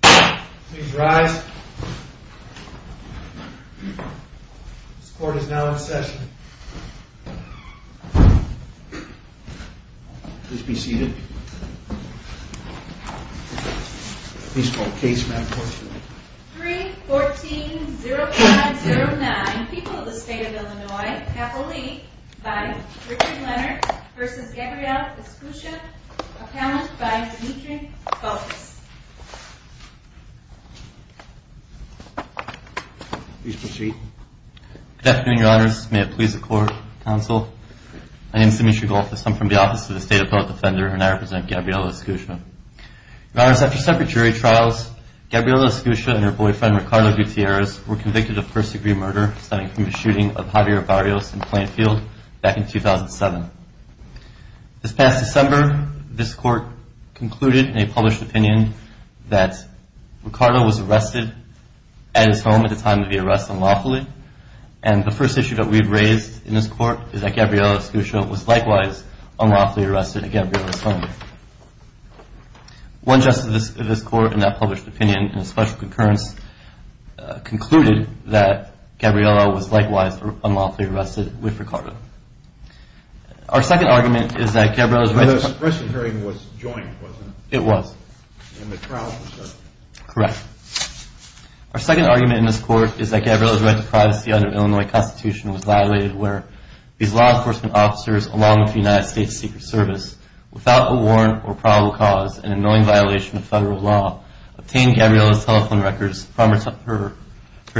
Please rise. This court is now in session. Please be seated. 314-0509, People of the State of Illinois, Capoli, by Richard Leonard v. Gabrielle Escutia, appellant by Dimitri Golfos. Please proceed. Good afternoon, your honors. May it please the court, counsel. My name is Dimitri Golfos. I'm from the Office of the State Appellant Defender, and I represent Gabrielle Escutia. Your honors, after separate jury trials, Gabrielle Escutia and her boyfriend, Ricardo Gutierrez, were convicted of persecutory murder stemming from the shooting of Javier Barrios in Plainfield back in 2007. This past December, this court concluded in a published opinion that Ricardo was arrested at his home at the time of the arrest unlawfully. And the first issue that we've raised in this court is that Gabrielle Escutia was likewise unlawfully arrested at Gabrielle's home. One justice of this court in that published opinion, in a special concurrence, concluded that Gabrielle was likewise unlawfully arrested with Ricardo. Our second argument is that Gabrielle's right to privacy under the Illinois Constitution was violated where these law enforcement officers along with the United States Secret Service without a warrant or probable cause, in an annoying violation of federal law, obtained Gabrielle's telephone records from her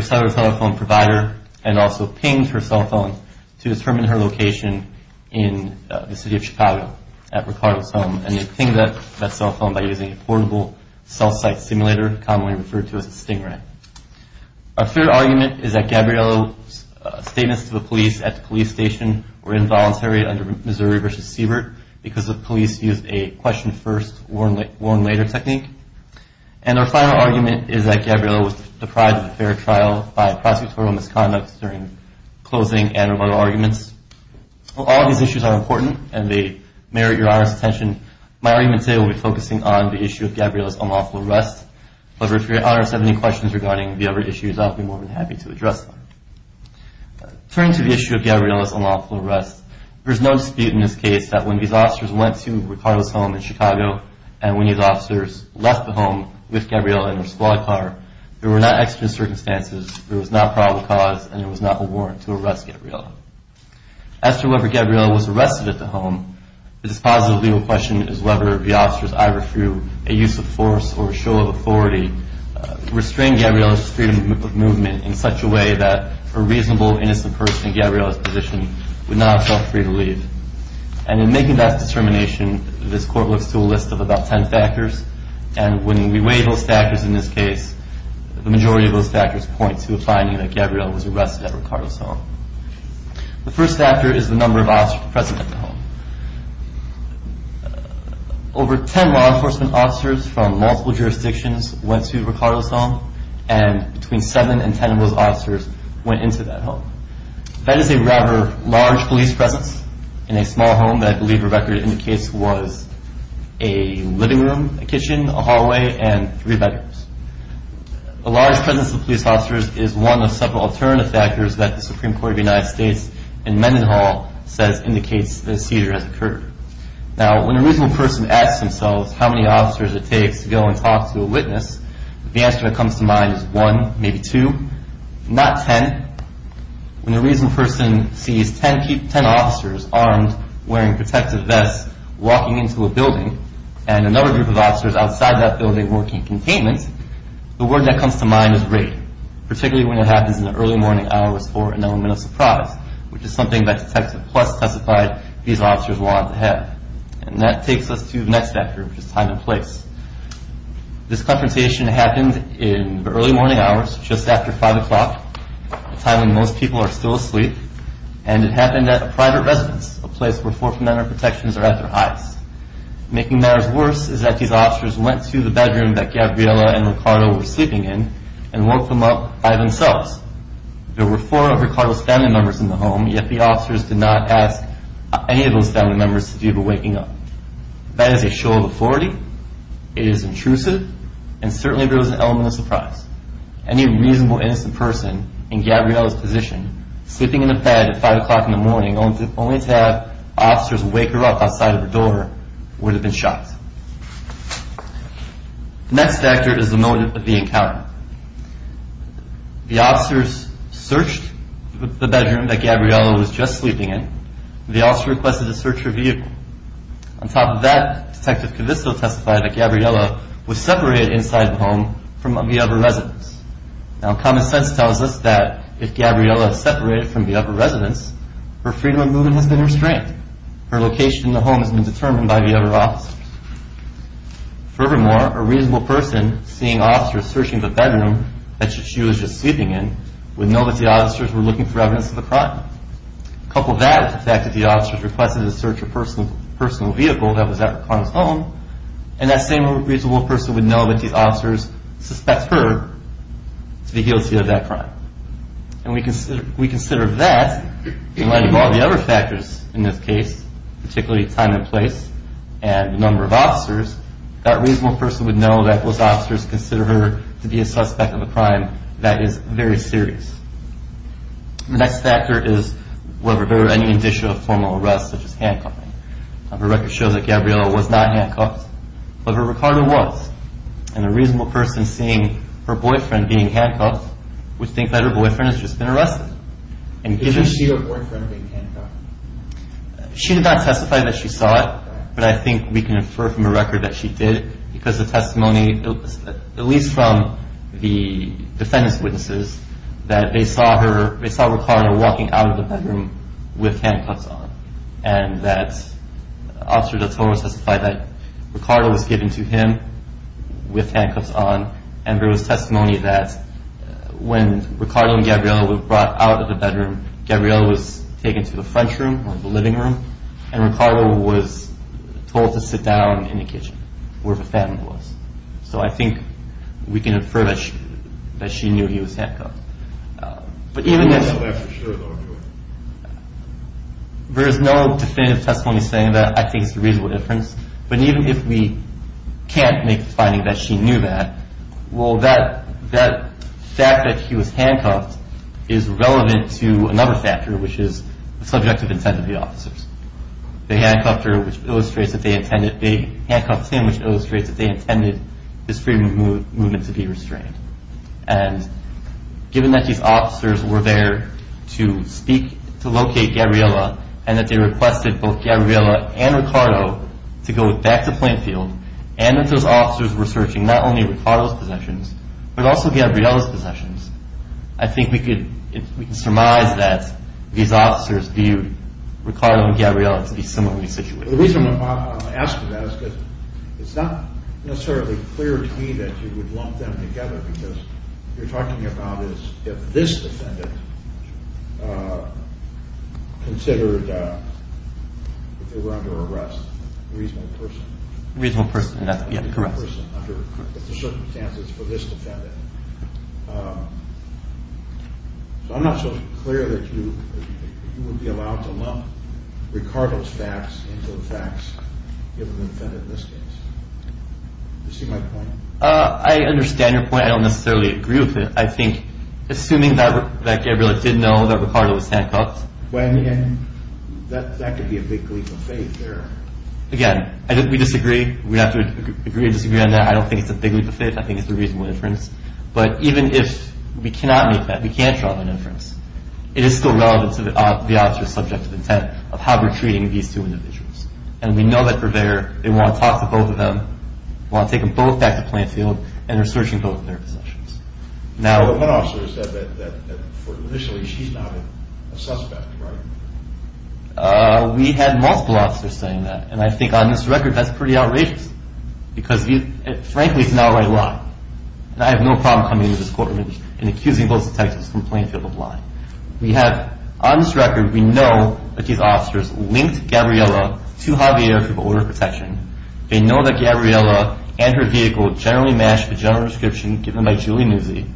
cellular telephone provider and also pinged her cell phone to determine her location in the city of Chicago at Ricardo's home. And they pinged that cell phone by using a portable cell site simulator, commonly referred to as a Stingray. Our third argument is that Gabrielle's statements to the police at the police station were involuntary under Missouri v. Siebert because the police used a question first, warn later technique. And our final argument is that Gabrielle was deprived of a fair trial by prosecutorial misconduct during closing and other arguments. While all of these issues are important and they merit your honest attention, my argument today will be focusing on the issue of Gabrielle's unlawful arrest. But if your honest have any questions regarding the other issues, I'll be more than happy to address them. Turning to the issue of Gabrielle's unlawful arrest, there's no dispute in this case that when these officers went to Ricardo's home in Chicago and when these officers left the home with Gabrielle in her squad car, there were not extra circumstances, there was not probable cause, and there was not a warrant to arrest Gabrielle. As to whether Gabrielle was arrested at the home, this positive legal question is whether the officers either threw a use of force or a show of authority to restrain Gabrielle's freedom of movement in such a way that a reasonable, innocent person in Gabrielle's position would not have felt free to leave. And in making that determination, this court looks to a list of about ten factors, and when we weigh those factors in this case, the majority of those factors point to a finding that Gabrielle was arrested at Ricardo's home. The first factor is the number of officers present at the home. Over ten law enforcement officers from multiple jurisdictions went to Ricardo's home, and between seven and ten of those officers went into that home. That is a rather large police presence in a small home that I believe Rebecca indicates was a living room, a kitchen, a hallway, and three bedrooms. A large presence of police officers is one of several alternative factors that the Supreme Court of the United States in Mendenhall says indicates the seizure has occurred. Now, when a reasonable person asks themselves how many officers it takes to go and talk to a witness, the answer that comes to mind is one, maybe two, not ten. When a reasonable person sees ten officers armed, wearing protective vests, walking into a building, and another group of officers outside that building working containment, the word that comes to mind is rape, particularly when it happens in the early morning hours for an elemental surprise, which is something that Detective Pless testified these officers wanted to have. And that takes us to the next factor, which is time and place. This confrontation happened in the early morning hours, just after 5 o'clock, a time when most people are still asleep, and it happened at a private residence, a place where Fourth Amendment protections are at their highest. Making matters worse is that these officers went to the bedroom that Gabriela and Ricardo were sleeping in and woke them up by themselves. There were four of Ricardo's family members in the home, yet the officers did not ask any of those family members to do the waking up. That is a show of authority, it is intrusive, and certainly there was an elemental surprise. Any reasonable, innocent person in Gabriela's position, sleeping in a bed at 5 o'clock in the morning, only to have officers wake her up outside of her door, would have been shocked. The next factor is the moment of the encounter. The officers searched the bedroom that Gabriela was just sleeping in, and the officer requested to search her vehicle. On top of that, Detective Kavisto testified that Gabriela was separated inside the home from the other residents. Now, common sense tells us that if Gabriela is separated from the other residents, her freedom of movement has been restrained. Her location in the home has been determined by the other officers. Furthermore, a reasonable person seeing officers searching the bedroom that she was just sleeping in would know that the officers were looking for evidence of the crime. Couple that with the fact that the officers requested to search her personal vehicle that was on the phone, and that same reasonable person would know that the officers suspect her to be guilty of that crime. And we consider that, in light of all the other factors in this case, particularly time and place, and the number of officers, that reasonable person would know that those officers consider her to be a suspect of a crime that is very serious. The next factor is whether there were any indicia of formal arrest, such as handcuffing. Her record shows that Gabriela was not handcuffed, but that Ricardo was. And a reasonable person seeing her boyfriend being handcuffed would think that her boyfriend has just been arrested. Did she see her boyfriend being handcuffed? She did not testify that she saw it, but I think we can infer from the record that she did, because the testimony, at least from the defendant's witnesses, that they saw Ricardo walking out of the bedroom with handcuffs on, and that Officer Del Toro testified that Ricardo was given to him with handcuffs on, and there was testimony that when Ricardo and Gabriela were brought out of the bedroom, Gabriela was taken to the front room, or the living room, and Ricardo was told to sit down in the kitchen, where the defendant was. So I think we can infer that she knew he was handcuffed. There is no definitive testimony saying that I think it's a reasonable inference, but even if we can't make the finding that she knew that, well, that fact that he was handcuffed is relevant to another factor, which is the subjective intent of the officers. They handcuffed her, which illustrates that they intended, they handcuffed him, which illustrates that they intended this freedom of movement to be restrained. And given that these officers were there to speak, to locate Gabriela, and that they requested both Gabriela and Ricardo to go back to Plainfield, and that those officers were searching not only Ricardo's possessions, but also Gabriela's possessions, I think we can surmise that these officers viewed Ricardo and Gabriela to be similarly situated. The reason why I'm asking that is because it's not necessarily clear to me that you would lump them together because what you're talking about is if this defendant considered, if they were under arrest, a reasonable person. A reasonable person, yes, correct. A reasonable person under the circumstances for this defendant. So I'm not so clear that you would be allowed to lump Ricardo's facts into the facts of the defendant in this case. Do you see my point? I understand your point. I don't necessarily agree with it. I think assuming that Gabriela did know that Ricardo was handcuffed. Well, I mean, that could be a big leap of faith there. Again, we disagree. We have to agree to disagree on that. I don't think it's a big leap of faith. I think it's a reasonable inference. But even if we cannot make that, we can't draw that inference, it is still relevant to the officer's subjective intent of how we're treating these two individuals. And we know that purveyor, they want to talk to both of them, want to take them both back to Plainfield, and they're searching both of their possessions. One officer said that initially she's not a suspect, right? We had multiple officers saying that. And I think on this record that's pretty outrageous because frankly it's not a right lie. And I have no problem coming into this courtroom and accusing both detectives from Plainfield of lying. On this record, we know that these officers linked Gabriela to Javier for border protection. They know that Gabriela and her vehicle generally match the general description given by Julie Nuzzi.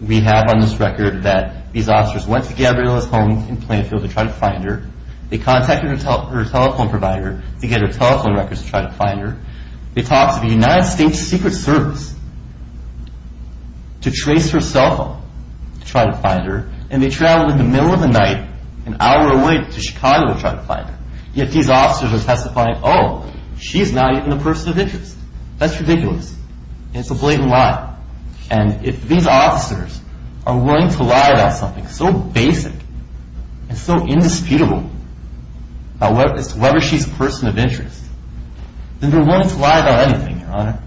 We have on this record that these officers went to Gabriela's home in Plainfield to try to find her. They contacted her telephone provider to get her telephone records to try to find her. They talked to the United States Secret Service to trace her cell phone to try to find her, and they traveled in the middle of the night an hour away to Chicago to try to find her. Yet these officers are testifying, oh, she's not even a person of interest. That's ridiculous, and it's a blatant lie. And if these officers are willing to lie about something so basic and so indisputable about whether she's a person of interest, then they're willing to lie about anything, Your Honor,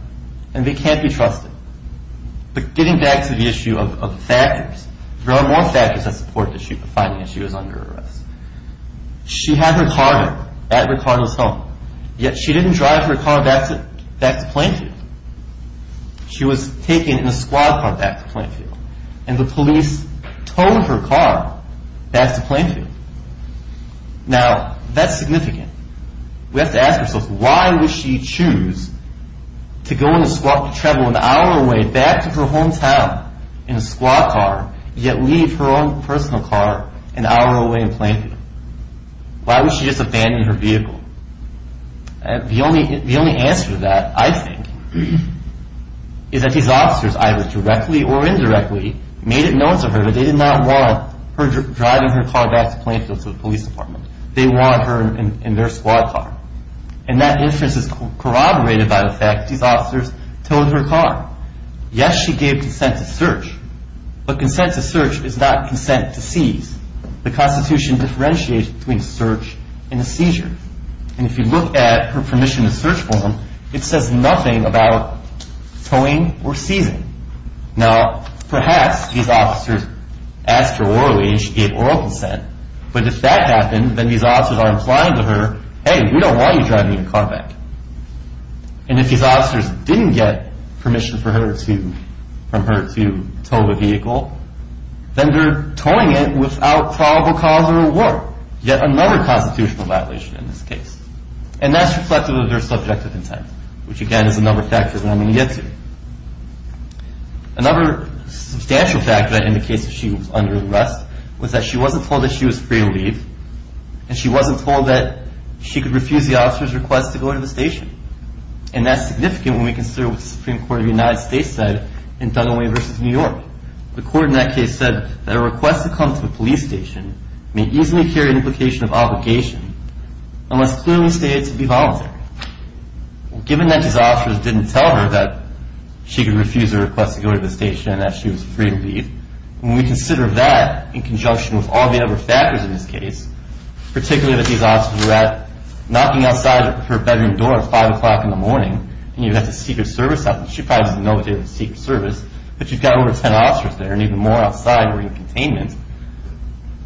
and they can't be trusted. But getting back to the issue of factors, there are more factors that support the finding that she was under arrest. She had her car there at Ricardo's home, yet she didn't drive her car back to Plainfield. She was taken in a squad car back to Plainfield, and the police towed her car back to Plainfield. Now, that's significant. We have to ask ourselves, why would she choose to go in a squad car, travel an hour away, back to her hometown in a squad car, yet leave her own personal car an hour away in Plainfield? Why would she just abandon her vehicle? The only answer to that, I think, is that these officers, either directly or indirectly, made it known to her that they did not want her driving her car back to Plainfield to the police department. They want her in their squad car. And that inference is corroborated by the fact that these officers towed her car. Yes, she gave consent to search, but consent to search is not consent to seize. The Constitution differentiates between search and a seizure. And if you look at her permission to search form, it says nothing about towing or seizing. Now, perhaps these officers asked her orally, and she gave oral consent. But if that happened, then these officers are implying to her, hey, we don't want you driving your car back. And if these officers didn't get permission from her to tow the vehicle, then they're towing it without probable cause or reward, yet another constitutional violation in this case. And that's reflective of their subjective intent, which, again, is another factor that I'm going to get to. Another substantial factor that indicates that she was under arrest was that she wasn't told that she was free to leave, and she wasn't told that she could refuse the officer's request to go to the station. And that's significant when we consider what the Supreme Court of the United States said in Duggan Way v. New York. The court in that case said that a request to come to a police station may easily carry an implication of obligation unless clearly stated to be voluntary. Given that these officers didn't tell her that she could refuse a request to go to the station and that she was free to leave, when we consider that in conjunction with all the other factors in this case, particularly that these officers were out knocking outside her bedroom door at 5 o'clock in the morning, and you had to seek her service out, and she probably doesn't know that they were seeking service, but you've got over 10 officers there, and even more outside were in containment,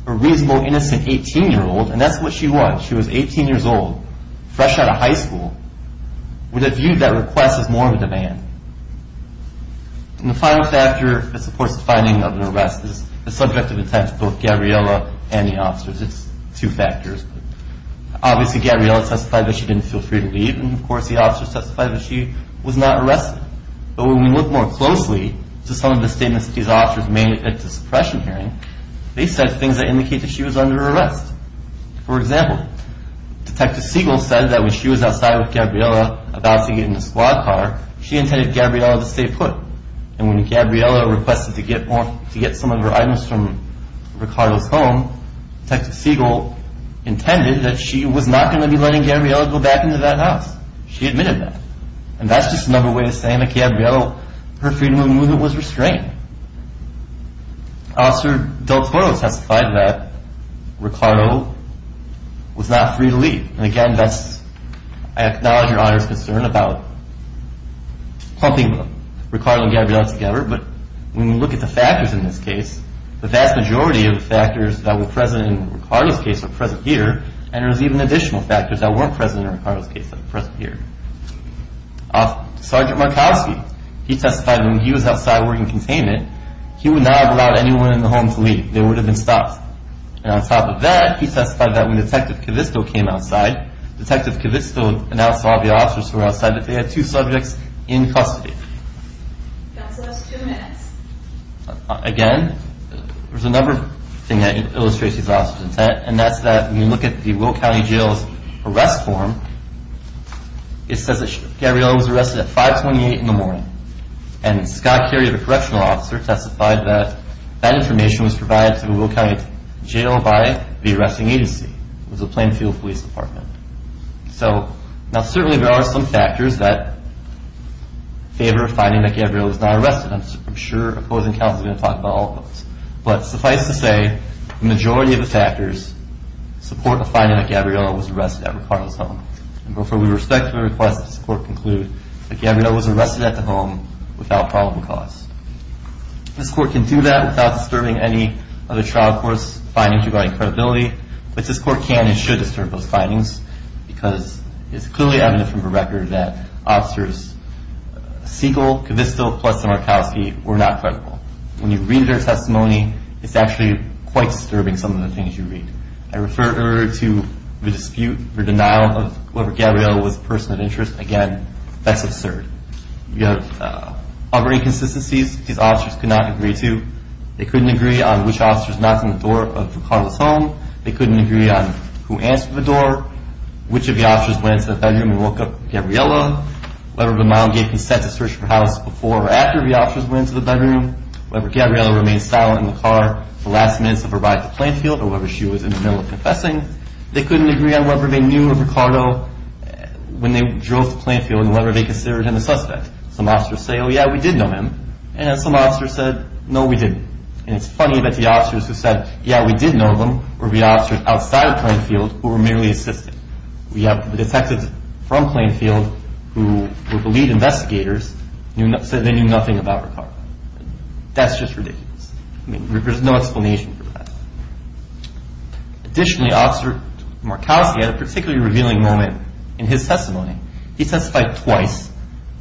a reasonable, innocent 18-year-old, and that's what she was. She was 18 years old, fresh out of high school, with a view to that request as more of a demand. And the final factor that supports the finding of an arrest is the subject of intent of both Gabriella and the officers. It's two factors. Obviously, Gabriella testified that she didn't feel free to leave, and of course the officers testified that she was not arrested. But when we look more closely to some of the statements that these officers made at the suppression hearing, they said things that indicate that she was under arrest. For example, Detective Siegel said that when she was outside with Gabriella about to get in the squad car, she intended Gabriella to stay put. And when Gabriella requested to get some of her items from Ricardo's home, Detective Siegel intended that she was not going to be letting Gabriella go back into that house. She admitted that. And that's just another way of saying that Gabriella, her freedom of movement was restrained. Officer Del Toro testified that Ricardo was not free to leave. And again, I acknowledge your Honor's concern about clumping Ricardo and Gabriella together, but when we look at the factors in this case, the vast majority of the factors that were present in Ricardo's case are present here, and there's even additional factors that weren't present in Ricardo's case that are present here. Sergeant Markowski, he testified that when he was outside working containment, he would not have allowed anyone in the home to leave. They would have been stopped. And on top of that, he testified that when Detective Kavisto came outside, Detective Kavisto announced to all the officers who were outside that they had two subjects in custody. That's the last two minutes. Again, there's another thing that illustrates these officers' intent, and that's that when you look at the Will County Jail's arrest form, it says that Gabriella was arrested at 528 in the morning. And Scott Carey, the correctional officer, testified that that information was provided to the Will County Jail by the arresting agency. It was the Plainfield Police Department. So now certainly there are some factors that favor finding that Gabriella was not arrested. I'm sure opposing counsel is going to talk about all of those. But suffice to say, the majority of the factors support the finding that Gabriella was arrested at Ricardo's home. And therefore, we respectfully request that this court conclude that Gabriella was arrested at the home without probable cause. This court can do that without disturbing any other trial court's findings regarding credibility, but this court can and should disturb those findings because it's clearly evident from the record that officers Siegel, Kavisto, Pless, and Markowski were not credible. When you read their testimony, it's actually quite disturbing some of the things you read. I refer to the dispute, the denial of whoever Gabriella was a person of interest. Again, that's absurd. You have other inconsistencies these officers could not agree to. They couldn't agree on which officers knocked on the door of Ricardo's home. They couldn't agree on who answered the door, which of the officers went into the bedroom and woke up Gabriella. Whether the mom gave consent to search her house before or after the officers went into the bedroom. Whether Gabriella remained silent in the car the last minutes of her ride to Plainfield or whether she was in the middle of confessing. They couldn't agree on whether they knew of Ricardo when they drove to Plainfield and whether they considered him a suspect. Some officers say, oh, yeah, we did know him. And some officers said, no, we didn't. And it's funny that the officers who said, yeah, we did know him, were the officers outside of Plainfield who were merely assisting. We have the detectives from Plainfield who were the lead investigators and said they knew nothing about Ricardo. That's just ridiculous. I mean, there's no explanation for that. Additionally, Officer Markowski had a particularly revealing moment in his testimony. He testified twice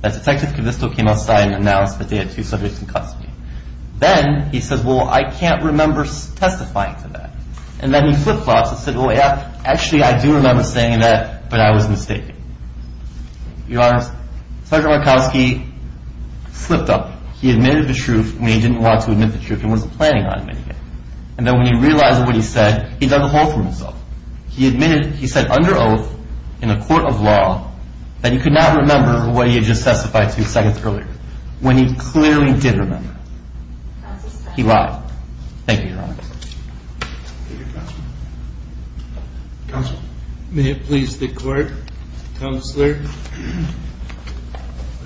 that Detective Kavisto came outside and announced that they had two subjects in custody. Then he says, well, I can't remember testifying to that. And then he flipped flops and said, well, yeah, actually I do remember saying that, but I was mistaken. Your Honor, Sergeant Markowski slipped up. He admitted the truth when he didn't want to admit the truth and wasn't planning on admitting it. And then when he realized what he said, he dug a hole for himself. He admitted, he said under oath in a court of law that he could not remember what he had just testified to seconds earlier when he clearly did remember. He lied. Thank you, Your Honor. Thank you, Counsel. Counsel? May it please the Court? Counselor,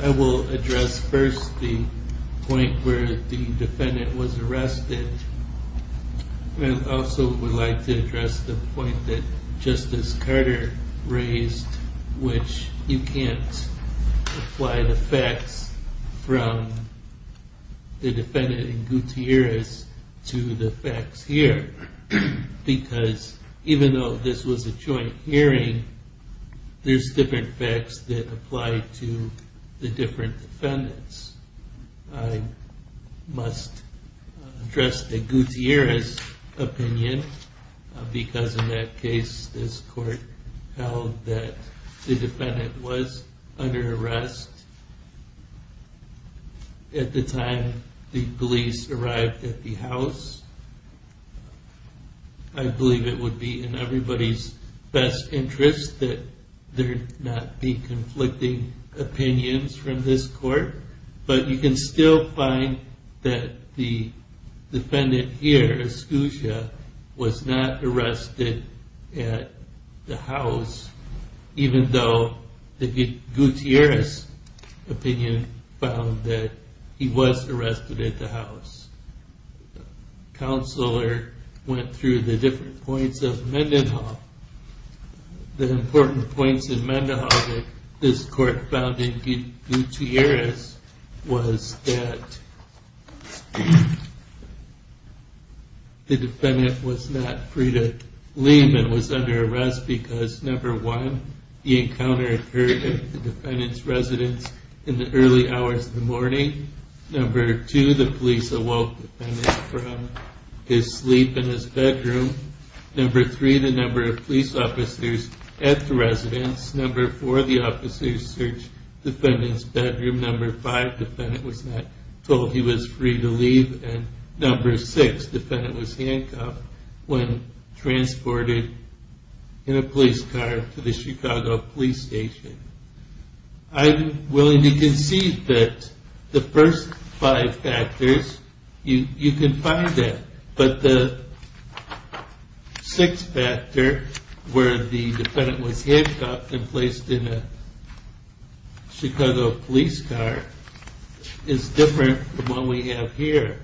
I will address first the point where the defendant was arrested and also would like to address the point that Justice Carter raised, which you can't apply the facts from the defendant in Gutierrez to the facts here. Because even though this was a joint hearing, there's different facts that apply to the different defendants. I must address the Gutierrez opinion because in that case, this court held that the defendant was under arrest at the time the police arrived at the house. I believe it would be in everybody's best interest that there not be conflicting opinions from this court. But you can still find that the defendant here, Escucha, was not arrested at the house, even though the Gutierrez opinion found that he was arrested at the house. Counselor went through the different points of Mendenhall, the important points in Mendenhall that this court found in Gutierrez was that the defendant was not free to leave and was under arrest because number one, the encounter occurred at the defendant's residence in the early hours of the morning. Number two, the police awoke the defendant from his sleep in his bedroom. Number three, the number of police officers at the residence. Number four, the officers searched the defendant's bedroom. Number five, the defendant was not told he was free to leave. And number six, the defendant was handcuffed when transported in a police car to the Chicago Police Station. I'm willing to concede that the first five factors, you can find that. But the sixth factor, where the defendant was handcuffed and placed in a Chicago police car, is different from what we have here.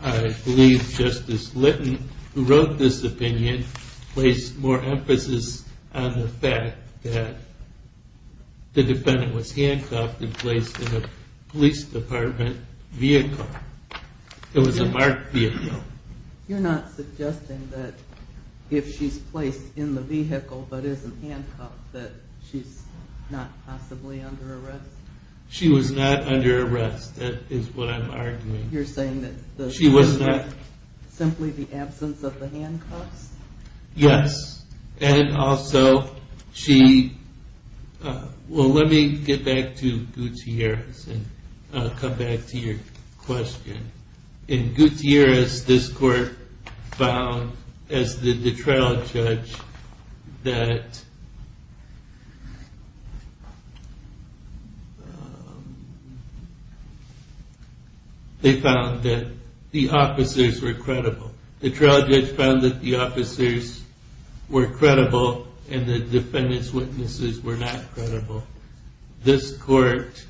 I believe Justice Litton, who wrote this opinion, placed more emphasis on the fact that the defendant was handcuffed and placed in a police department vehicle. It was a marked vehicle. You're not suggesting that if she's placed in the vehicle but isn't handcuffed that she's not possibly under arrest? She was not under arrest. That is what I'm arguing. You're saying that it was simply the absence of the handcuffs? Yes. And also, she... Well, let me get back to Gutierrez and come back to your question. In Gutierrez, this court found, as did the trial judge, that they found that the officers were credible. The trial judge found that the officers were credible and the defendant's witnesses were not credible. This court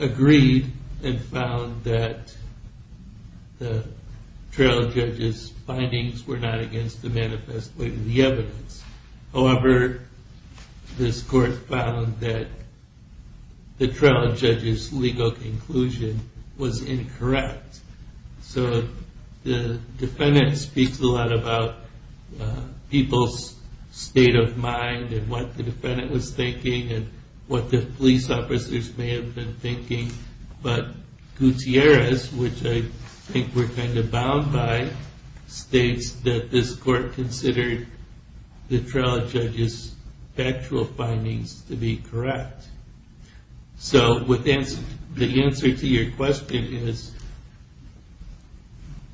agreed and found that the trial judge's findings were not against the manifest witness, the evidence. However, this court found that the trial judge's legal conclusion was incorrect. So the defendant speaks a lot about people's state of mind and what the defendant was thinking and what the police officers may have been thinking. But Gutierrez, which I think we're kind of bound by, states that this court considered the trial judge's factual findings to be correct. So the answer to your question is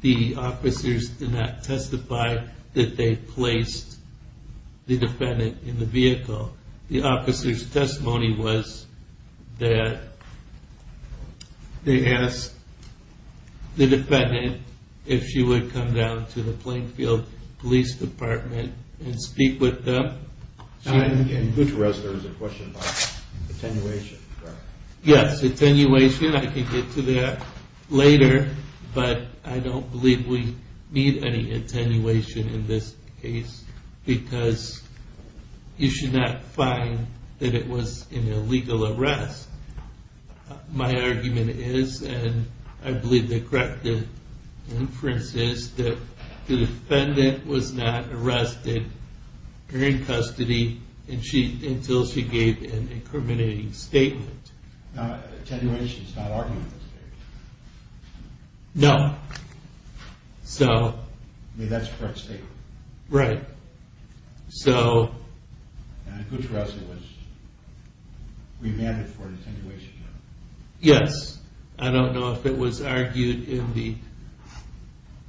the officers did not testify that they placed the defendant in the vehicle. The officer's testimony was that they asked the defendant if she would come down to the Plainfield Police Department and speak with them. In Gutierrez, there was a question about attenuation. Yes, attenuation. I can get to that later. But I don't believe we need any attenuation in this case because you should not find that it was an illegal arrest. My argument is, and I believe the correct inference is, that the defendant was not arrested or in custody until she gave an incriminating statement. Now, attenuation is not argumentative. No. I mean, that's a correct statement. Right. And in Gutierrez, it was remanded for an attenuation. Yes. I don't know if it was argued in the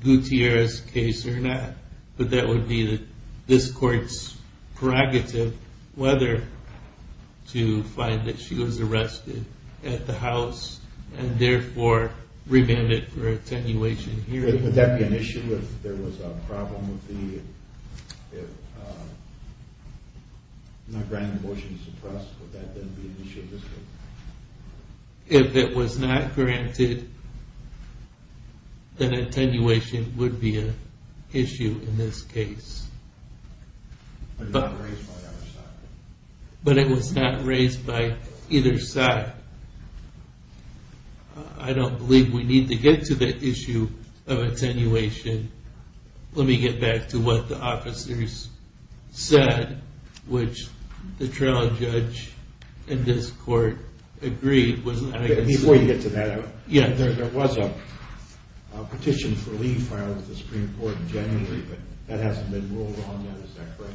Gutierrez case or not, but that would be this court's prerogative whether to find that she was arrested at the house and therefore remanded for attenuation here. Would that be an issue if there was a problem with the... not granting the motion to suppress? Would that then be an issue in this case? If it was not granted, then attenuation would be an issue in this case. But not raised by either side. But it was not raised by either side. I don't believe we need to get to the issue of attenuation. Let me get back to what the officers said, which the trial judge in this court agreed was... Before you get to that, there was a petition for leave filed with the Supreme Court in January, but that hasn't been ruled on yet. Is that correct?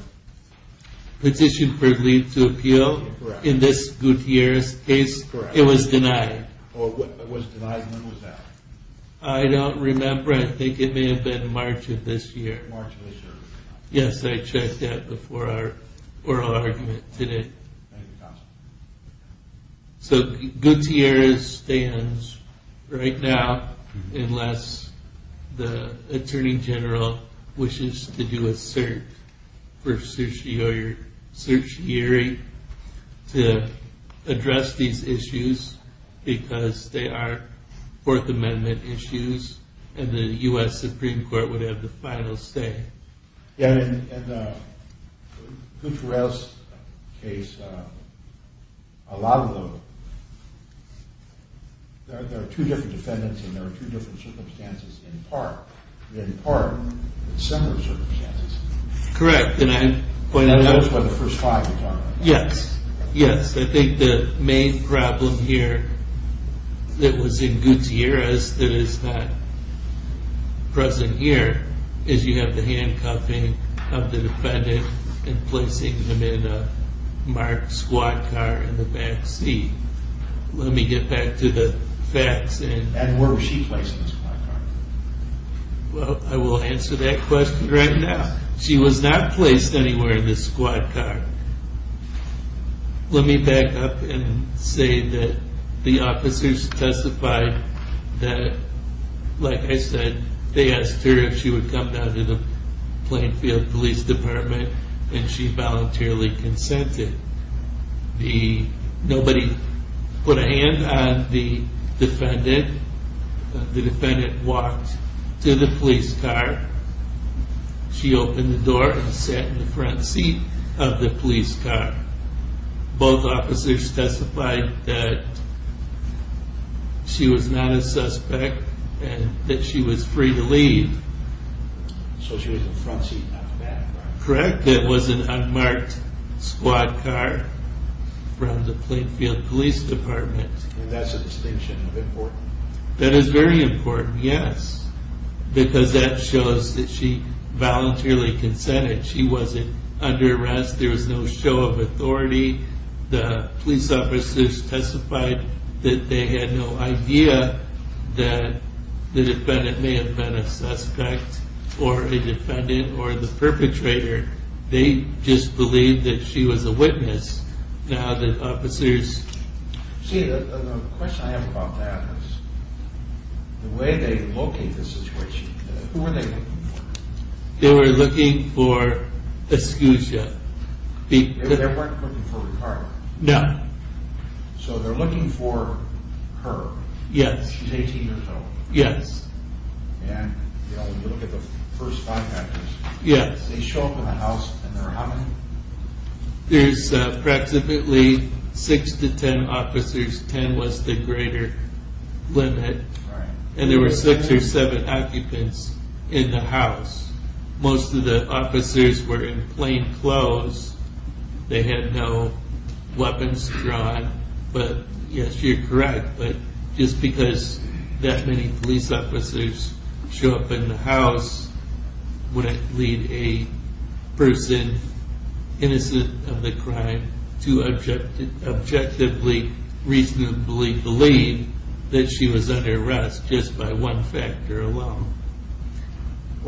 Petition for leave to appeal? Correct. In this Gutierrez case? Correct. It was denied. It was denied. When was that? I don't remember. I think it may have been March of this year. March of this year. Yes, I checked that before our oral argument today. Thank you, counsel. So Gutierrez stands right now unless the Attorney General wishes to do a search for certiorari to address these issues because they are Fourth Amendment issues and the U.S. Supreme Court would have the final say. In the Gutierrez case, there are two different defendants and there are two different circumstances in part. In part, there are similar circumstances. Correct. That was what the first five were talking about. Yes, yes. I think the main problem here that was in Gutierrez that is not present here is you have the handcuffing of the defendant and placing him in a marked squad car in the back seat. Let me get back to the facts. And where was she placed in the squad car? Well, I will answer that question right now. She was not placed anywhere in the squad car. Let me back up and say that the officers testified that, like I said, they asked her if she would come down to the Plainfield Police Department and she voluntarily consented. Nobody put a hand on the defendant. The defendant walked to the police car. She opened the door and sat in the front seat of the police car. Both officers testified that she was not a suspect and that she was free to leave. So she was in the front seat, not the back, right? Correct. It was an unmarked squad car from the Plainfield Police Department. And that's a distinction of importance. That is very important, yes. Because that shows that she voluntarily consented. She wasn't under arrest. There was no show of authority. The police officers testified that they had no idea that the defendant may have been a suspect or a defendant or the perpetrator. They just believed that she was a witness. Now the officers... Who were they looking for? They were looking for Escutia. They weren't looking for Ricardo. No. So they're looking for her. Yes. She's 18 years old. Yes. And you look at the first five actors. Yes. They show up in the house and there are how many? There's approximately six to ten officers. Ten was the greater limit. Right. And there were six or seven occupants in the house. Most of the officers were in plain clothes. They had no weapons drawn. But, yes, you're correct. But just because that many police officers show up in the house wouldn't lead a person innocent of the crime to objectively, reasonably believe that she was under arrest just by one factor alone.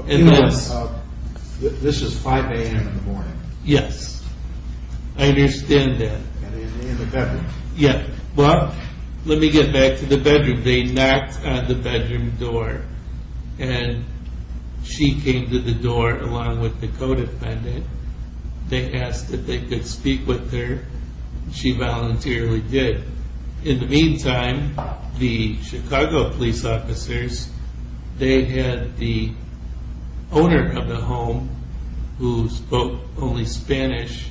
This is 5 a.m. in the morning. Yes. I understand that. In the bedroom. Yes. Well, let me get back to the bedroom. They knocked on the bedroom door, and she came to the door along with the co-defendant. They asked if they could speak with her, and she voluntarily did. In the meantime, the Chicago police officers, they had the owner of the home, who spoke only Spanish,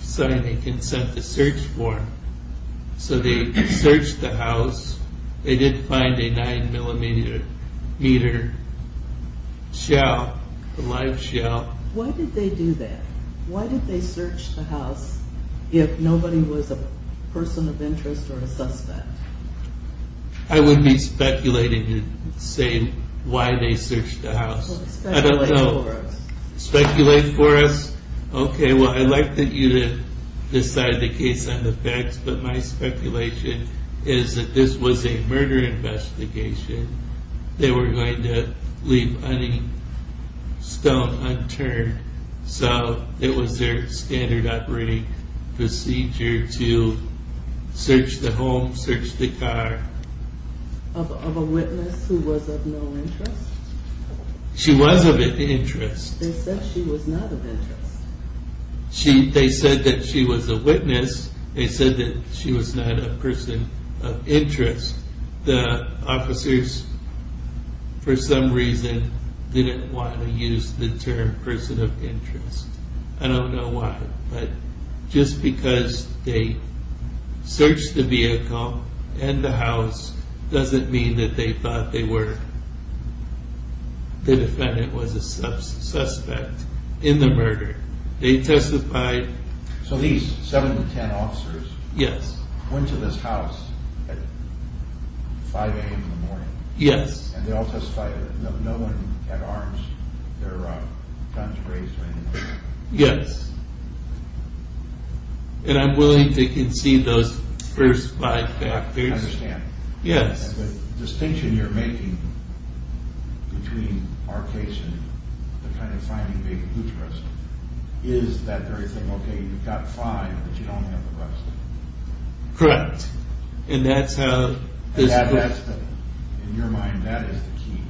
sign a consent to search form. So they searched the house. They did find a 9-millimeter shell, a live shell. Why did they do that? Why did they search the house if nobody was a person of interest or a suspect? I would be speculating and saying why they searched the house. Well, speculate for us. Speculate for us? Okay, well, I'd like you to decide the case on the facts, but my speculation is that this was a murder investigation. They were going to leave any stone unturned, so it was their standard operating procedure to search the home, search the car. Of a witness who was of no interest? She was of interest. They said she was not of interest. They said that she was a witness. They said that she was not a person of interest. The officers, for some reason, didn't want to use the term person of interest. I don't know why, but just because they searched the vehicle and the house doesn't mean that they thought the defendant was a suspect in the murder. So these 7 to 10 officers went to this house at 5 a.m. in the morning? Yes. And they all testified that no one had armed their guns raised or anything like that? Yes. And I'm willing to concede those first five factors. I understand. Yes. I guess the distinction you're making between our case and the kind of finding baby boots arrest is that very thing, okay, you've got five, but you don't have the rest. Correct. And that's how this was. In your mind, that is the key.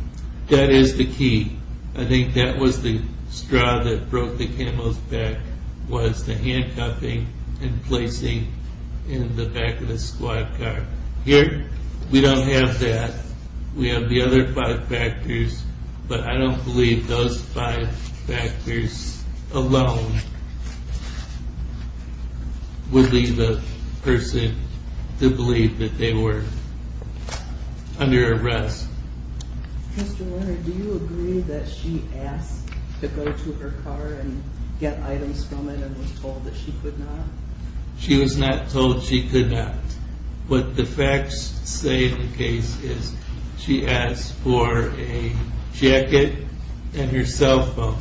That is the key. I think that was the straw that broke the camel's back was the handcuffing and placing in the back of the squad car. Here we don't have that. We have the other five factors, but I don't believe those five factors alone would lead the person to believe that they were under arrest. Mr. Lerner, do you agree that she asked to go to her car and get items from it and was told that she could not? She was not told she could not. What the facts say in the case is she asked for a jacket and her cell phone.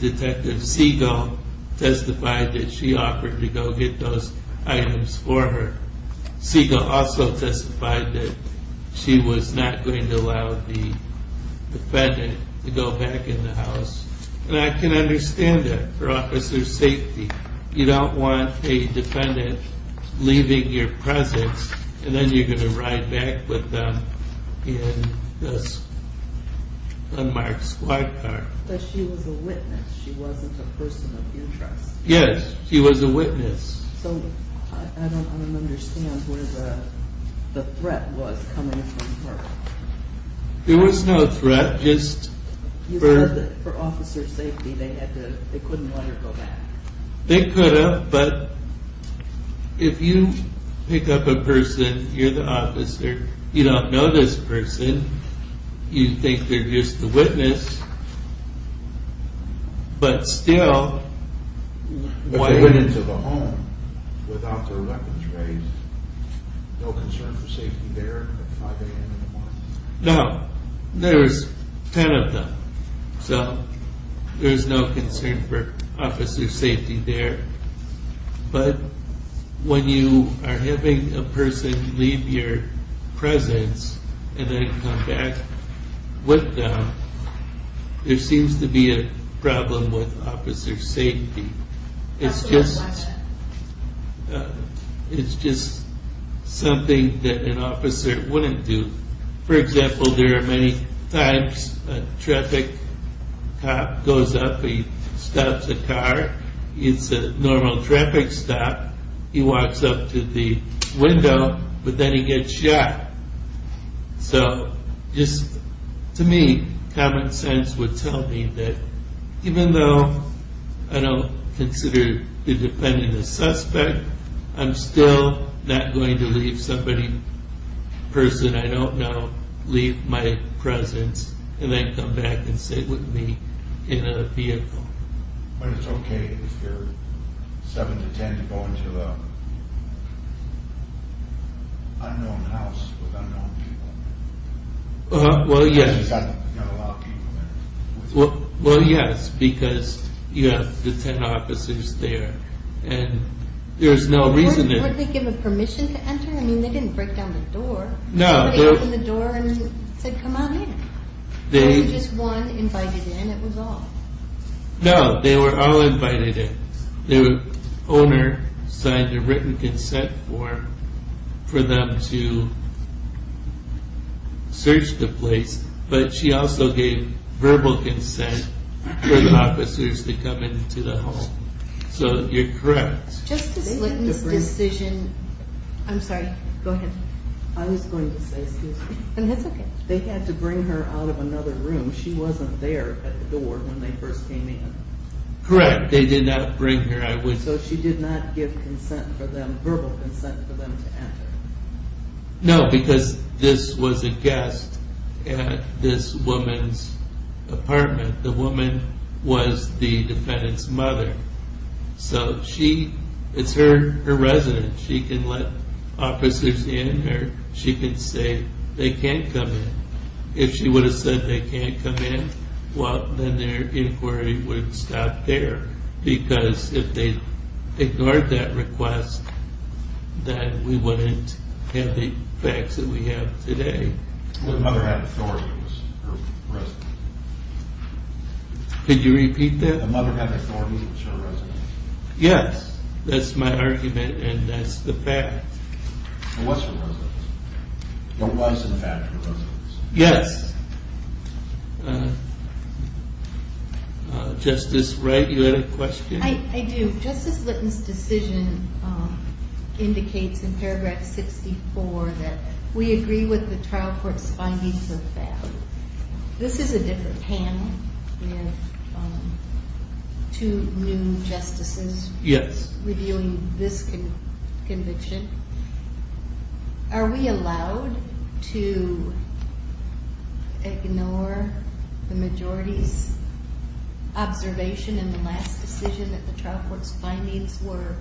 Detective Siegel testified that she offered to go get those items for her. Siegel also testified that she was not going to allow the defendant to go back in the house. And I can understand that for officer's safety. You don't want a defendant leaving your presence and then you're going to ride back with them in this unmarked squad car. But she was a witness. She wasn't a person of interest. Yes, she was a witness. So I don't understand where the threat was coming from her. There was no threat. You said that for officer's safety they couldn't let her go back. They could have, but if you pick up a person, you're the officer, you don't know this person, you think they're just the witness, but still... If they went into the home without their weapons raised, no concern for safety there at 5 a.m. in the morning? No. There was 10 of them. So there was no concern for officer's safety there. But when you are having a person leave your presence and then come back with them, there seems to be a problem with officer's safety. That's a good question. It's just something that an officer wouldn't do. For example, there are many times a traffic cop goes up, he stops a car, it's a normal traffic stop, he walks up to the window, but then he gets shot. So just to me, common sense would tell me that even though I don't consider the defendant a suspect, I'm still not going to leave somebody, a person I don't know, leave my presence and then come back and sit with me in a vehicle. But it's okay if you're 7 to 10 to go into an unknown house with unknown people. Well, yes. Because you've got a lot of people there. Well, yes, because you have the 10 officers there, and there's no reason to... Weren't they given permission to enter? I mean, they didn't break down the door. Nobody opened the door and said, come on in. There was just one invited in, that was all. No, they were all invited in. The owner signed a written consent form for them to search the place, but she also gave verbal consent for the officers to come into the home. So you're correct. Justice Litton's decision... I'm sorry, go ahead. I was going to say, excuse me. That's okay. They had to bring her out of another room. She wasn't there at the door when they first came in. Correct, they did not bring her. So she did not give verbal consent for them to enter. No, because this was a guest at this woman's apartment. The woman was the defendant's mother. Correct. So it's her residence. She can let officers in, or she can say they can't come in. If she would have said they can't come in, well, then their inquiry would have stopped there, because if they ignored that request, then we wouldn't have the effects that we have today. Her mother had authority as her residence. Could you repeat that? Her mother had authority as her residence. Yes, that's my argument, and that's the fact. It was her residence. It was, in fact, her residence. Yes. Justice Wright, you had a question? I do. Justice Litton's decision indicates in paragraph 64 that we agree with the trial court's findings of that. This is a different panel. We have two new justices reviewing this conviction. Are we allowed to ignore the majority's observation in the last decision that the trial court's findings were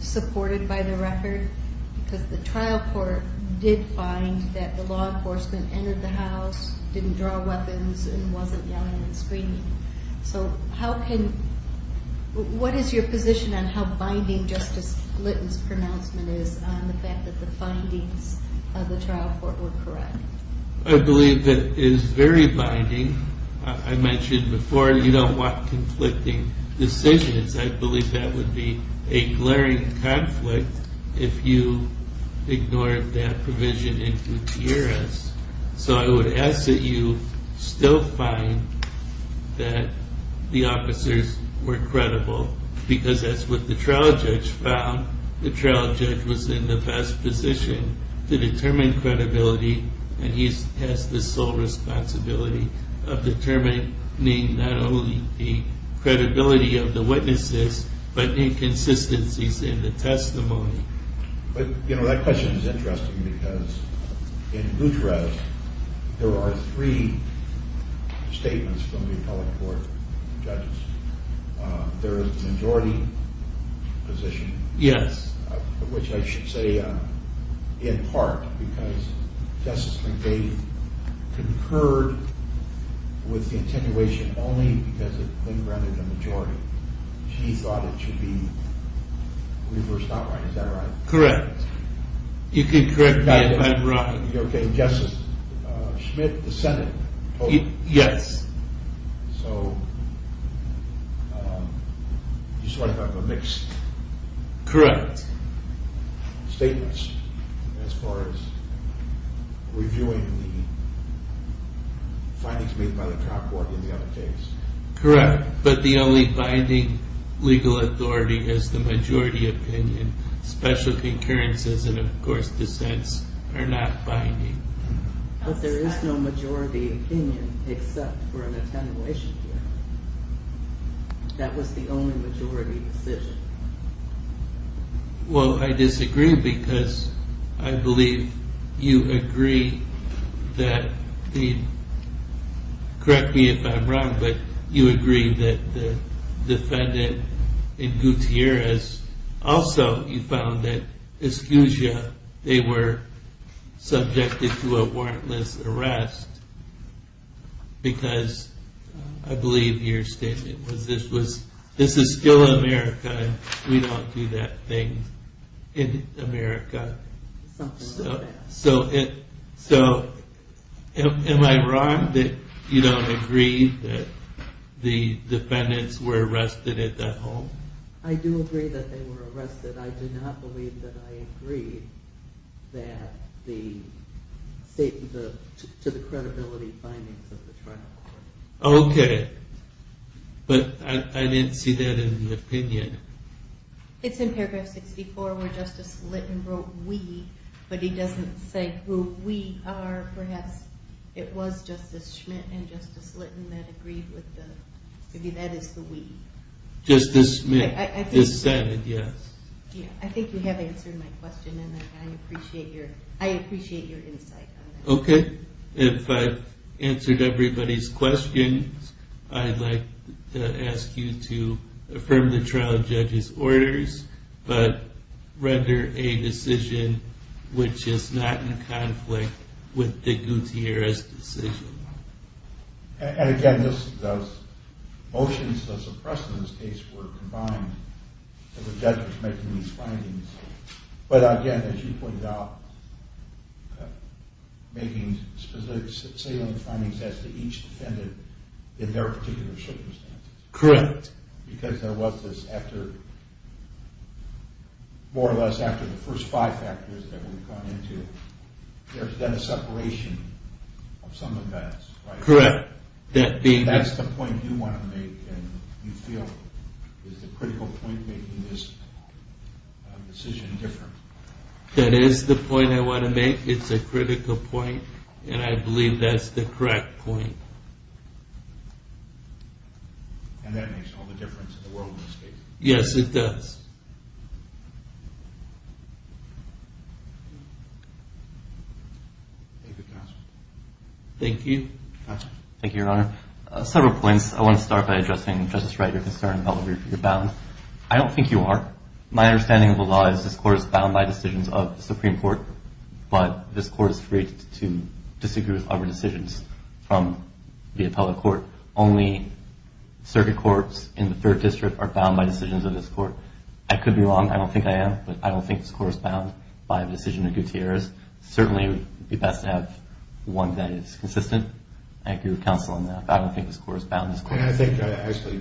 supported by the record? Because the trial court did find that the law enforcement entered the house, didn't draw weapons, and wasn't yelling and screaming. So what is your position on how binding Justice Litton's pronouncement is on the fact that the findings of the trial court were correct? I believe it is very binding. I mentioned before you don't want conflicting decisions. I believe that would be a glaring conflict if you ignored that provision in Gutierrez. So I would ask that you still find that the officers were credible because that's what the trial judge found. The trial judge was in the best position to determine credibility, and he has the sole responsibility of determining not only the credibility of the witnesses but the inconsistencies in the testimony. But, you know, that question is interesting because in Gutierrez there are three statements from the appellate court judges. There is the majority position, which I should say in part because Justice McVeigh concurred with the attenuation only because it represented a majority. She thought it should be reversed, not right. Is that right? Correct. You can correct me if I'm wrong. Okay, Justice Schmidt, the Senate. Yes. So you just want to talk about mixed statements as far as reviewing the findings made by the trial court in the other case. Correct, but the only binding legal authority is the majority opinion. Special concurrences and, of course, dissents are not binding. But there is no majority opinion except for an attenuation hearing. That was the only majority decision. Well, I disagree because I believe you agree that the, correct me if I'm wrong, but you agree that the defendant in Gutierrez also found that they were subjected to a warrantless arrest because I believe your statement was this is still America and we don't do that thing in America. Something like that. So am I wrong that you don't agree that the defendants were arrested at that home? I do agree that they were arrested. I do not believe that I agree to the credibility findings of the trial court. Okay, but I didn't see that in the opinion. It's in paragraph 64 where Justice Litton wrote we, but he doesn't say who we are. Perhaps it was Justice Schmidt and Justice Litton that agreed with the, maybe that is the we. Justice Schmidt dissented, yes. I think you have answered my question and I appreciate your insight. Okay. If I've answered everybody's questions, I'd like to ask you to affirm the trial judge's orders, but render a decision which is not in conflict with the Gutierrez decision. And again, those motions that were suppressed in this case were combined with the judge making these findings. But again, as you pointed out, making specific salient findings as to each defendant in their particular circumstances. Correct. Because there was this after, more or less after the first five factors that we've gone into, there's been a separation of some of that. Correct. That's the point you want to make and you feel is the critical point making this decision different. That is the point I want to make. It's a critical point and I believe that's the correct point. And that makes all the difference in the world in this case. Yes, it does. Thank you, counsel. Thank you. Thank you, Your Honor. Several points. I want to start by addressing, Justice Wright, your concern about whether you're bound. I don't think you are. My understanding of the law is this court is bound by decisions of the Supreme Court, but this court is free to disagree with other decisions from the appellate court. Only circuit courts in the Third District are bound by decisions of this court. I could be wrong. I don't think I am. I don't think this court is bound by the decision of Gutierrez. Certainly, it would be best to have one that is consistent. Thank you, counsel, on that. I don't think this court is bound. I think, actually,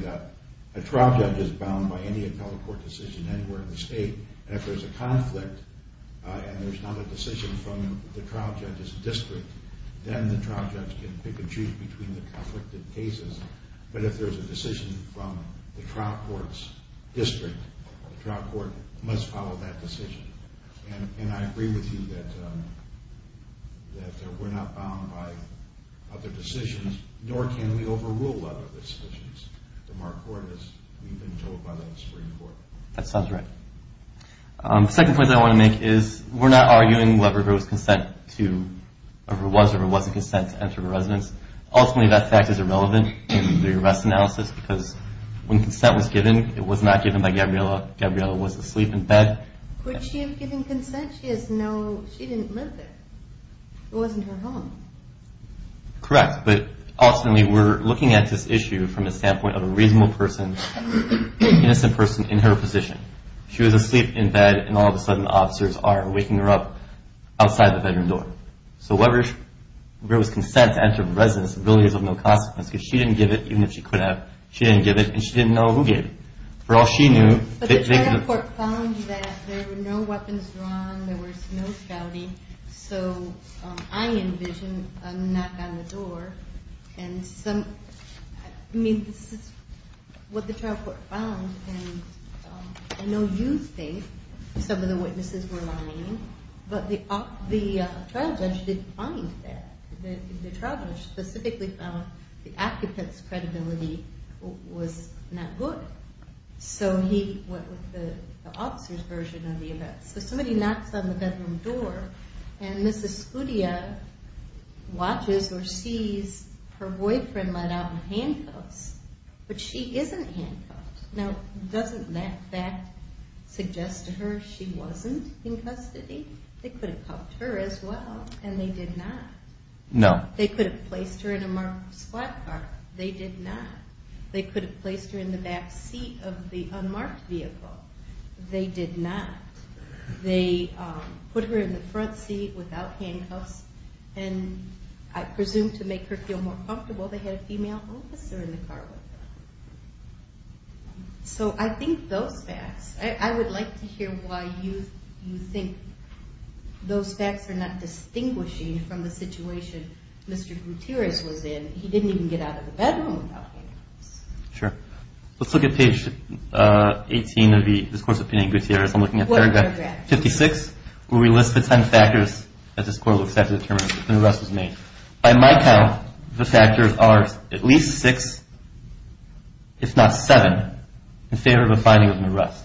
a trial judge is bound by any appellate court decision anywhere in the state. If there's a conflict and there's not a decision from the trial judge's district, then the trial judge can pick and choose between the conflicted cases. But if there's a decision from the trial court's district, the trial court must follow that decision. And I agree with you that we're not bound by other decisions, nor can we overrule other decisions from our court as we've been told by the Supreme Court. That sounds right. The second point that I want to make is we're not arguing whether there was consent to, or was or wasn't consent to enter the residence. Ultimately, that fact is irrelevant in the arrest analysis because when consent was given, it was not given by Gabriela. Gabriela was asleep in bed. Could she have given consent? She didn't live there. It wasn't her home. Correct. But ultimately, we're looking at this issue from the standpoint of a reasonable person, an innocent person in her position. She was asleep in bed, and all of a sudden, officers are waking her up outside the bedroom door. So whether there was consent to enter the residence really is of no consequence because she didn't give it, even if she could have. She didn't give it, and she didn't know who gave it. For all she knew, they could have. But the trial court found that there were no weapons drawn, there was no scouting, so I envision a knock on the door. I mean, this is what the trial court found, and I know you think some of the witnesses were lying, but the trial judge didn't find that. The trial judge specifically found the occupant's credibility was not good, so he went with the officer's version of the events. So somebody knocks on the bedroom door, and Mrs. Scudia watches or sees her boyfriend let out handcuffs, but she isn't handcuffed. Now, doesn't that fact suggest to her she wasn't in custody? They could have helped her as well, and they did not. They could have placed her in a marked squad car. They did not. They could have placed her in the back seat of the unmarked vehicle. They did not. They put her in the front seat without handcuffs, and I presume to make her feel more comfortable, they had a female officer in the car with them. So I think those facts, I would like to hear why you think those facts are not distinguishing from the situation Mr. Gutierrez was in. He didn't even get out of the bedroom without handcuffs. Sure. Let's look at page 18 of the discourse of Pena and Gutierrez. I'm looking at paragraph 56, where we list the ten factors that this court looks at to determine if an arrest was made. By my count, the factors are at least six, if not seven, in favor of a finding of an arrest.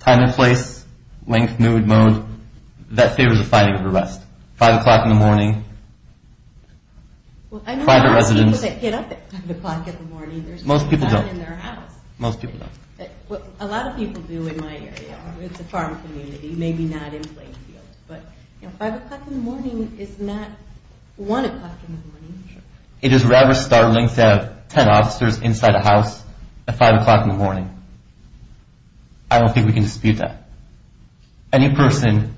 Time and place, length, mood, mode, that favors a finding of an arrest. Five o'clock in the morning, private residence. I know a lot of people that get up at five o'clock in the morning. Most people don't. There's no one in their house. Most people don't. A lot of people do in my area. It's a farm community, maybe not in Plainfield. But five o'clock in the morning is not one o'clock in the morning. It is rather startling to have ten officers inside a house at five o'clock in the morning. I don't think we can dispute that. Any person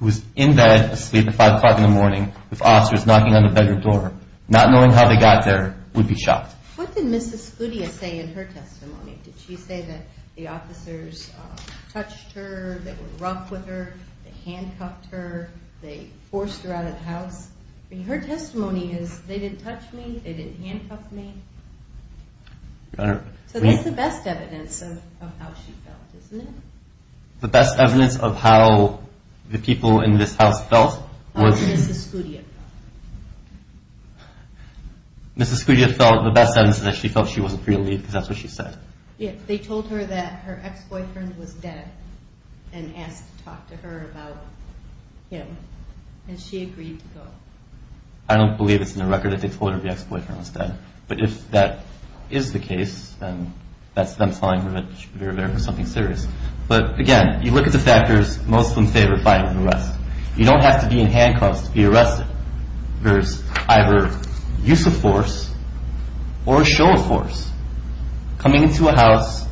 who is in bed asleep at five o'clock in the morning with officers knocking on the bedroom door, not knowing how they got there, would be shocked. What did Mrs. Gutierrez say in her testimony? Did she say that the officers touched her, they were rough with her, they handcuffed her, they forced her out of the house? Her testimony is, they didn't touch me, they didn't handcuff me. So that's the best evidence of how she felt, isn't it? The best evidence of how the people in this house felt was? How Mrs. Gutierrez felt. Mrs. Gutierrez felt the best evidence is that she felt she wasn't free to leave because that's what she said. Yes, they told her that her ex-boyfriend was dead and asked to talk to her about him. And she agreed to go. I don't believe it's in the record that they told her the ex-boyfriend was dead. But if that is the case, then that's them telling her that she should be prepared for something serious. But, again, you look at the factors, most of them favor filing an arrest. You don't have to be in handcuffs to be arrested. There's either use of force or a show of force. Coming into a house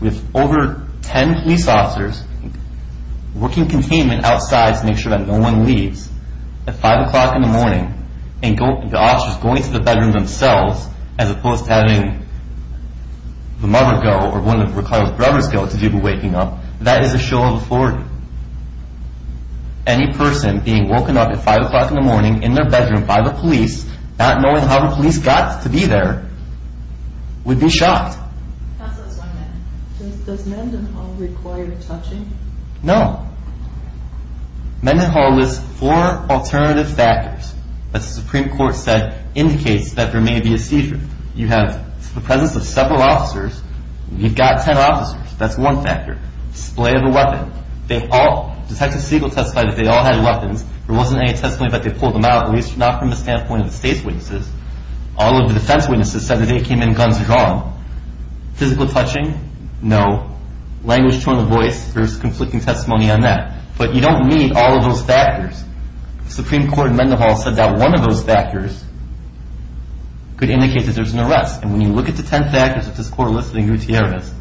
with over 10 police officers, working containment outside to make sure that no one leaves, at 5 o'clock in the morning, and the officers going to the bedroom themselves, as opposed to having the mother go or one of Ricardo's brothers go to do the waking up, that is a show of authority. Any person being woken up at 5 o'clock in the morning in their bedroom by the police, not knowing how the police got to be there, would be shot. Does Mendenhall require touching? No. Mendenhall lists four alternative factors that the Supreme Court said indicates that there may be a seizure. You have the presence of several officers. You've got 10 officers. That's one factor. Display of a weapon. Detective Siegel testified that they all had weapons. There wasn't any testimony that they pulled them out, at least not from the standpoint of the state's witnesses. All of the defense witnesses said that they came in guns drawn. Physical touching? No. Language toward the voice, there's conflicting testimony on that. But you don't need all of those factors. The Supreme Court in Mendenhall said that one of those factors could indicate that there's an arrest, and when you look at the 10 factors that this Court listed in Gutierrez,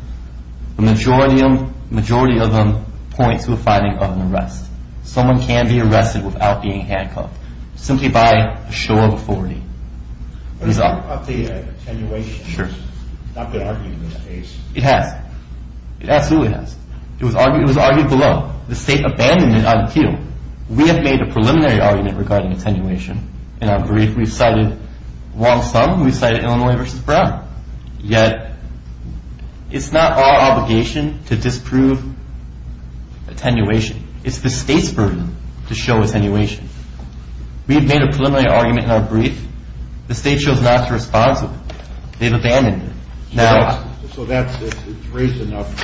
the majority of them point to a finding of an arrest. Someone can be arrested without being handcuffed simply by a show of authority. What about the attenuation? Sure. Not good argument in this case. It has. It absolutely has. It was argued below. The state abandoned it on cue. We have made a preliminary argument regarding attenuation in our brief. We've cited Wong-Sum. We've cited Illinois v. Brown. Yet it's not our obligation to disprove attenuation. It's the state's burden to show attenuation. We've made a preliminary argument in our brief. The state chose not to respond to it. They've abandoned it. So it's raised enough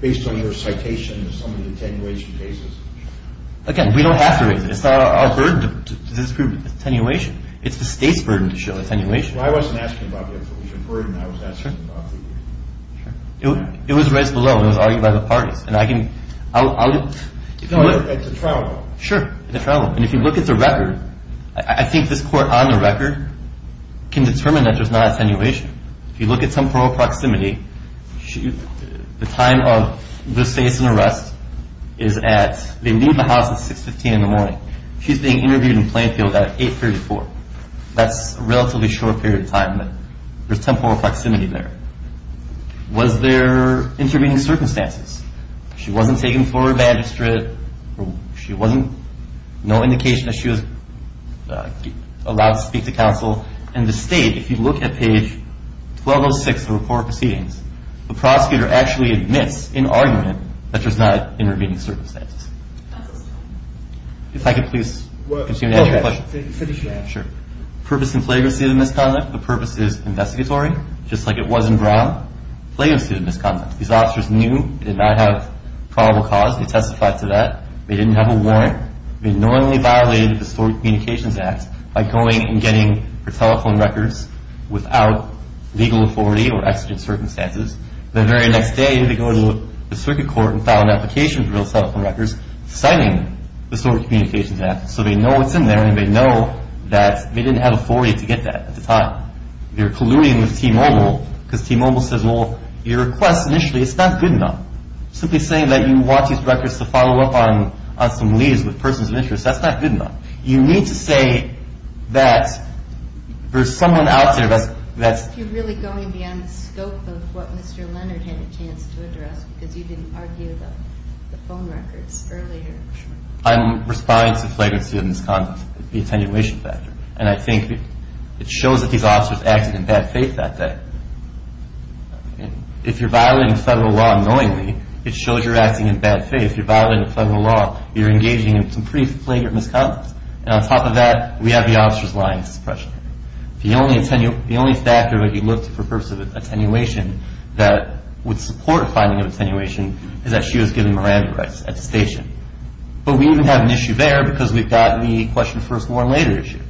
based on your citation of some of the attenuation cases? Again, we don't have to raise it. It's not our burden to disprove attenuation. It's the state's burden to show attenuation. Well, I wasn't asking about the attenuation burden. I was asking about the argument. It was raised below. It was argued by the parties. And I can – No, it's a trial law. Sure, it's a trial law. And if you look at the record, I think this court on the record can determine that there's not attenuation. If you look at temporal proximity, the time of this case and arrest is at – they leave the house at 6.15 in the morning. She's being interviewed in Plainfield at 8.34. That's a relatively short period of time. There's temporal proximity there. Was there intervening circumstances? She wasn't taken for a bandage strip. She wasn't – no indication that she was allowed to speak to counsel. And the state, if you look at page 1206 of the report of proceedings, the prosecutor actually admits in argument that there's not intervening circumstances. If I could please continue to answer your question. Sure. Purpose and flagrancy of the misconduct. The purpose is investigatory, just like it was in Brown. Flagrancy of the misconduct. These officers knew they did not have probable cause. They testified to that. They didn't have a warrant. They knowingly violated the Historic Communications Act by going and getting her telephone records without legal authority or exigent circumstances. The very next day, they go to the circuit court and file an application for those telephone records, citing the Historic Communications Act, so they know what's in there and they know that they didn't have authority to get that at the time. They were colluding with T-Mobile because T-Mobile says, well, your request initially is not good enough. Simply saying that you want these records to follow up on some leads with persons of interest, that's not good enough. You need to say that there's someone out there that's – You're really going beyond the scope of what Mr. Leonard had a chance to address because you didn't argue the phone records earlier. I'm responding to flagrancy of misconduct, the attenuation factor. And I think it shows that these officers acted in bad faith that day. If you're violating federal law knowingly, it shows you're acting in bad faith. If you're violating federal law, you're engaging in some pretty flagrant misconduct. And on top of that, we have the officer's lying suppression. The only factor that he looked for the purpose of attenuation that would support finding of attenuation is that she was given Miranda rights at the station. But we even have an issue there because we've got the question first warrant later issue.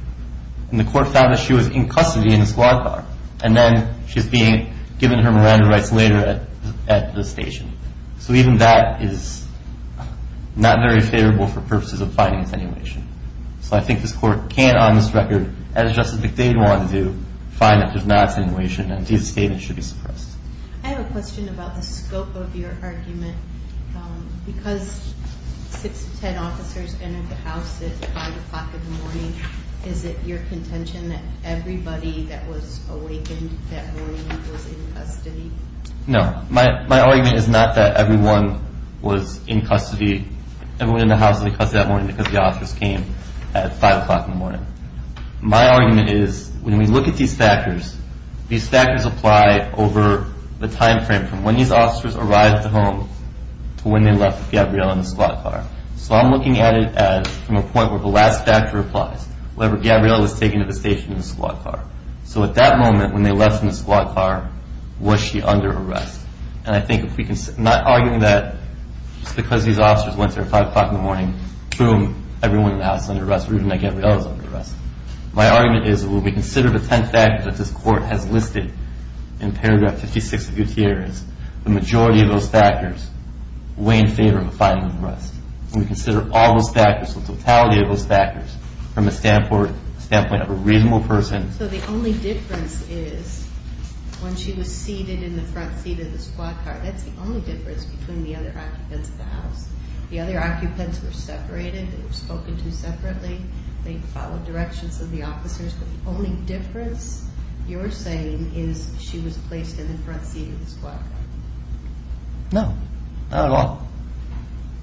And the court found that she was in custody in the squad car. And then she's being given her Miranda rights later at the station. So even that is not very favorable for purposes of finding attenuation. So I think this court can't on this record, as Justice McDade wanted to do, find that there's not attenuation and these statements should be suppressed. I have a question about the scope of your argument. Because six to ten officers entered the house at 5 o'clock in the morning, is it your contention that everybody that was awakened that morning was in custody? No. My argument is not that everyone was in custody, everyone in the house was in custody that morning because the officers came at 5 o'clock in the morning. My argument is when we look at these factors, these factors apply over the time frame from when these officers arrived at the home to when they left with Gabriella in the squad car. So I'm looking at it as from a point where the last factor applies. However, Gabriella was taken to the station in the squad car. So at that moment when they left in the squad car, was she under arrest? And I think if we can, I'm not arguing that just because these officers went there at 5 o'clock in the morning, boom, everyone in the house is under arrest or even that Gabriella is under arrest. My argument is that when we consider the tenth factor that this court has listed in paragraph 56 of Gutierrez, the majority of those factors weigh in favor of a final arrest. When we consider all those factors, the totality of those factors, from the standpoint of a reasonable person. So the only difference is when she was seated in the front seat of the squad car, that's the only difference between the other occupants of the house. The other occupants were separated, they were spoken to separately, they followed directions of the officers. The only difference you're saying is she was placed in the front seat of the squad car. No, not at all.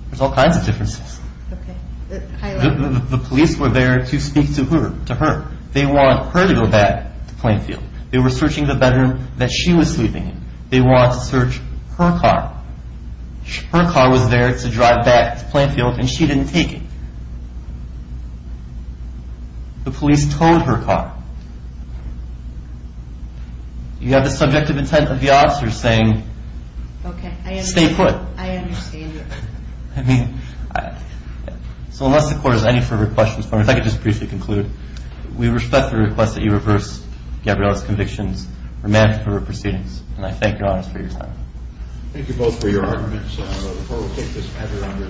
There's all kinds of differences. The police were there to speak to her. They want her to go back to Plainfield. They were searching the bedroom that she was sleeping in. They wanted to search her car. Her car was there to drive back to Plainfield and she didn't take it. The police towed her car. You have the subjective intent of the officers saying, stay put. I understand. So unless the court has any further questions, if I could just briefly conclude, we respect the request that you reverse Gabriella's convictions, remand her for her proceedings, and I thank you all for your time. Thank you both for your arguments. So the court will take this matter under advisement. And now we'll have a panel change to the next case.